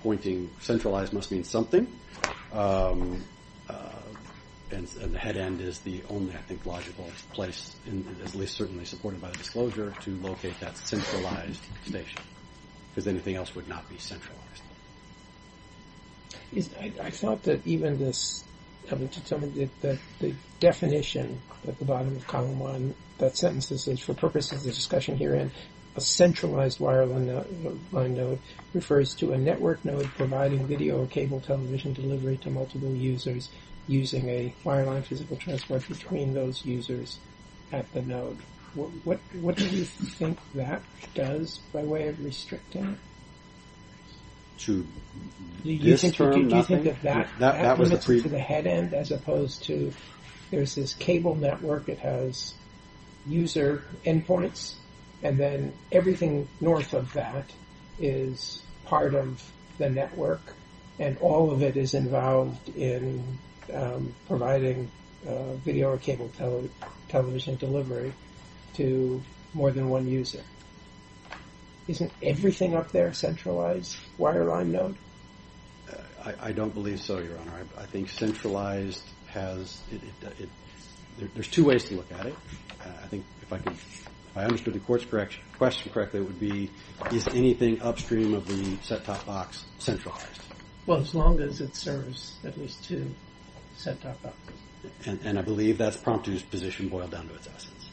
pointing centralized must mean something. And the head end is the only, I think, logical place, at least certainly supported by the disclosure, to locate that centralized station. Because anything else would not be centralized. I thought that even this, having determined that the definition at the bottom of Column 1, that sentence says, for purposes of discussion herein, a centralized wireline node refers to a network node providing video or cable television delivery to multiple users using a wireline physical transport between those users at the node. What do you think that does by way of restricting it? Do you think that limits it to the head end as opposed to, there's this cable network that has user endpoints and then everything north of that is part of the network and all of it is involved in providing video or cable television delivery to more than one user. Isn't everything up there centralized? Wireline node? I don't believe so, Your Honor. I think centralized has, there's two ways to look at it. I think if I understood the question correctly, it would be, is anything upstream of the set-top box centralized? Well, as long as it serves at least two set-top boxes. And I believe that's Promptu's position boiled down to its essence.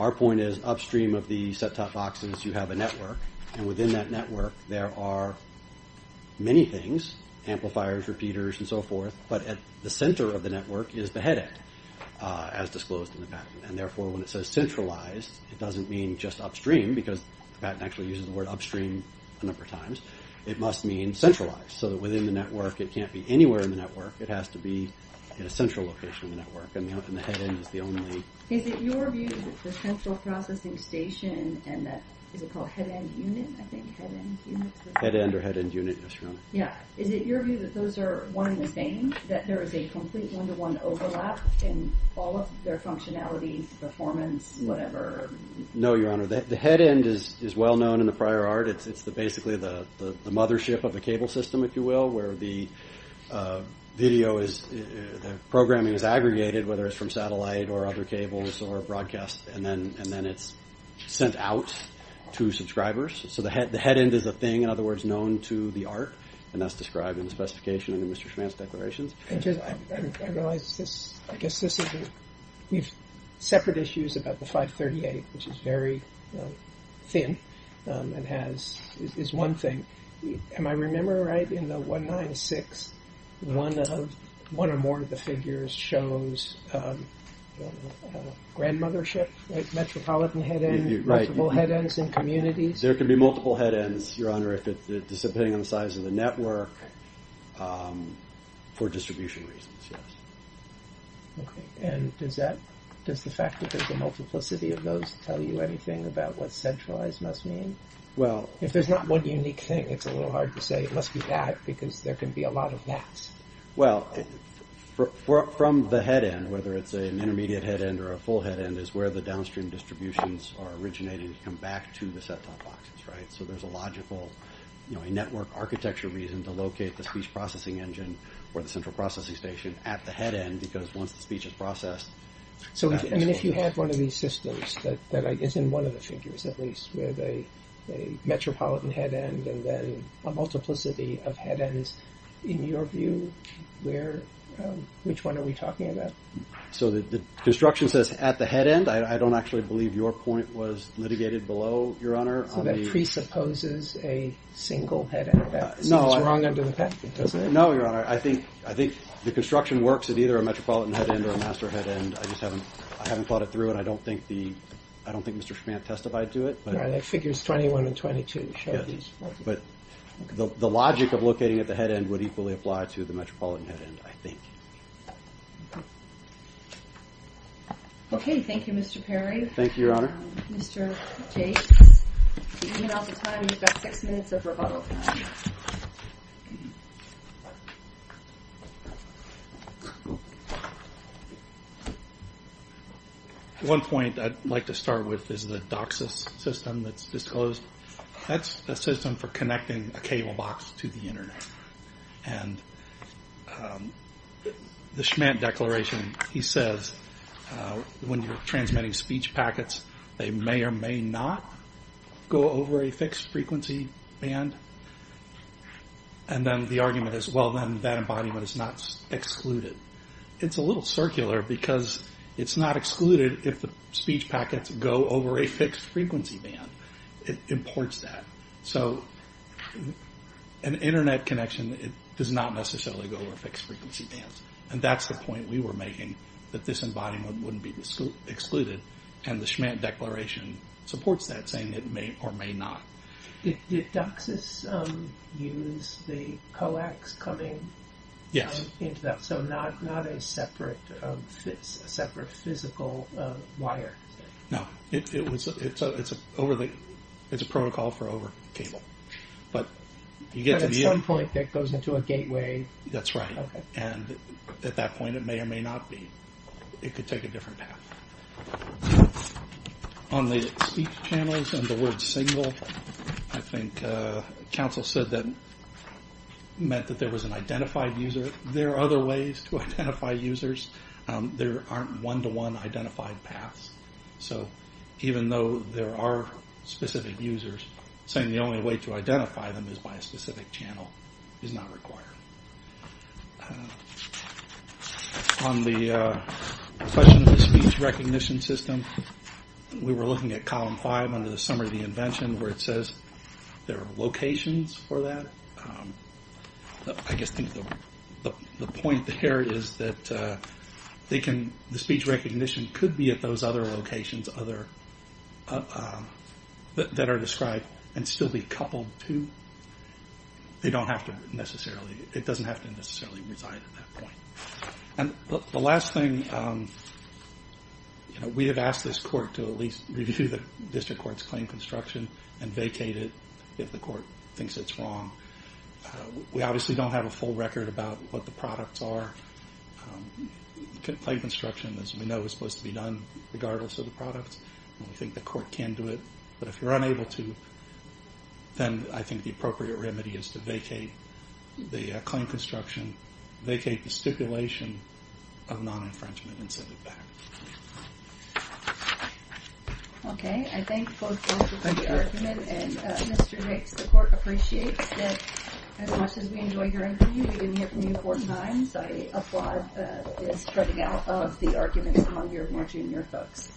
Our point is upstream of the set-top boxes you have a network and within that network there are many things, amplifiers, repeaters, and so forth, but at the center of the network is the head end as disclosed in the patent and therefore when it says centralized it doesn't mean just upstream because the patent actually uses the word upstream a number of times. It must mean centralized so that within the network it can't be anywhere in the network. It has to be in a central location in the network and the head end is the only... Is it your view that the central processing station and that, is it called head end unit? I think head end unit is the... Head end or head end unit, yes, Your Honor. Yeah, is it your view that those are one and the same? That there is a complete one-to-one overlap in all of their functionalities, performance, whatever? No, Your Honor. The head end is well-known in the prior art. It's basically the mothership of the cable system, if you will, where the video is... the programming is aggregated whether it's from satellite or other cables or broadcast and then it's sent out to subscribers. So the head end is a thing, in other words, known to the art and that's described in the specification in the Mr. Schman's declarations. I realize this... I guess this is... We've separate issues about the 538, which is very thin and has... is one thing. Am I remembering right? In the 196, one of... one or more of the figures shows grandmothership, like metropolitan head end, multiple head ends in communities. There can be multiple head ends, Your Honor, depending on the size of the network for distribution reasons, yes. Okay. And does that... does the fact that there's a multiplicity of those tell you anything about what centralized must mean? Well... If there's not one unique thing, it's a little hard to say it must be that because there can be a lot of that. Well, from the head end, whether it's an intermediate head end or a full head end is where the downstream distributions are originating to come back to the set-top boxes, right? So there's a logical, you know, a network architecture reason to locate the speech processing engine or the central processing station at the head end because once the speech is processed... So, I mean, if you have one of these systems that is in one of the figures, at least, with a metropolitan head end and then a multiplicity of head ends, in your view, where... which one are we talking about? So the construction says at the head end. was litigated below, Your Honor. So that presupposes a single head end. No. It seems wrong under the patent, doesn't it? No, Your Honor. I think the construction works at either a metropolitan head end or a master head end. I just haven't thought it through and I don't think the... I don't think Mr. Schmantt testified to it. All right. Figures 21 and 22 show these. But the logic of locating at the head end would equally apply to the metropolitan head end, I think. Okay. Thank you, Mr. Perry. Thank you, Your Honor. Mr. Tate. You're running out of time. You've got six minutes of rebuttal time. One point I'd like to start with is the DOCSIS system that's disclosed. That's a system for connecting a cable box to the Internet. And the Schmantt declaration, he says, when you're transmitting speech packets, they may or may not go over a fixed frequency band. And then the argument is, well, then that embodiment is not excluded. It's a little circular because it's not excluded if the speech packets go over a fixed frequency band. It imports that. So an Internet connection, it does not necessarily go over fixed frequency bands. And that's the point we were making, that this embodiment wouldn't be excluded. And the Schmantt declaration supports that. It's saying it may or may not. Did DOCSIS use the coax coming into that? Yes. So not a separate physical wire? No. It's a protocol for over cable. But at some point, that goes into a gateway. That's right. And at that point, it may or may not be. It could take a different path. On the speech channels and the word single, I think Council said that meant that there was an identified user. There are other ways to identify users. There aren't one-to-one identified paths. So even though there are specific users, saying the only way to identify them is by a specific channel is not required. On the question of the speech recognition system, we were looking at column five under the summary of the invention where it says there are locations for that. I just think the point there is that the speech recognition could be at those other locations that are described and still be coupled to. It doesn't have to necessarily reside at that point. The last thing, we have asked this court to at least review the district court's claim construction and vacate it if the court thinks it's wrong. We obviously don't have a full record about what the products are. Claim construction, as we know, is supposed to be done regardless of the products. We think the court can do it. But if you're unable to, then I think the appropriate remedy is to vacate the claim construction, vacate the stipulation of non-infringement, and send it back. Okay. I thank both judges for the argument. And Mr. Hicks, the court appreciates that as much as we enjoy hearing from you, we hear from you four times. I applaud the spreading out of the argument among your more junior folks.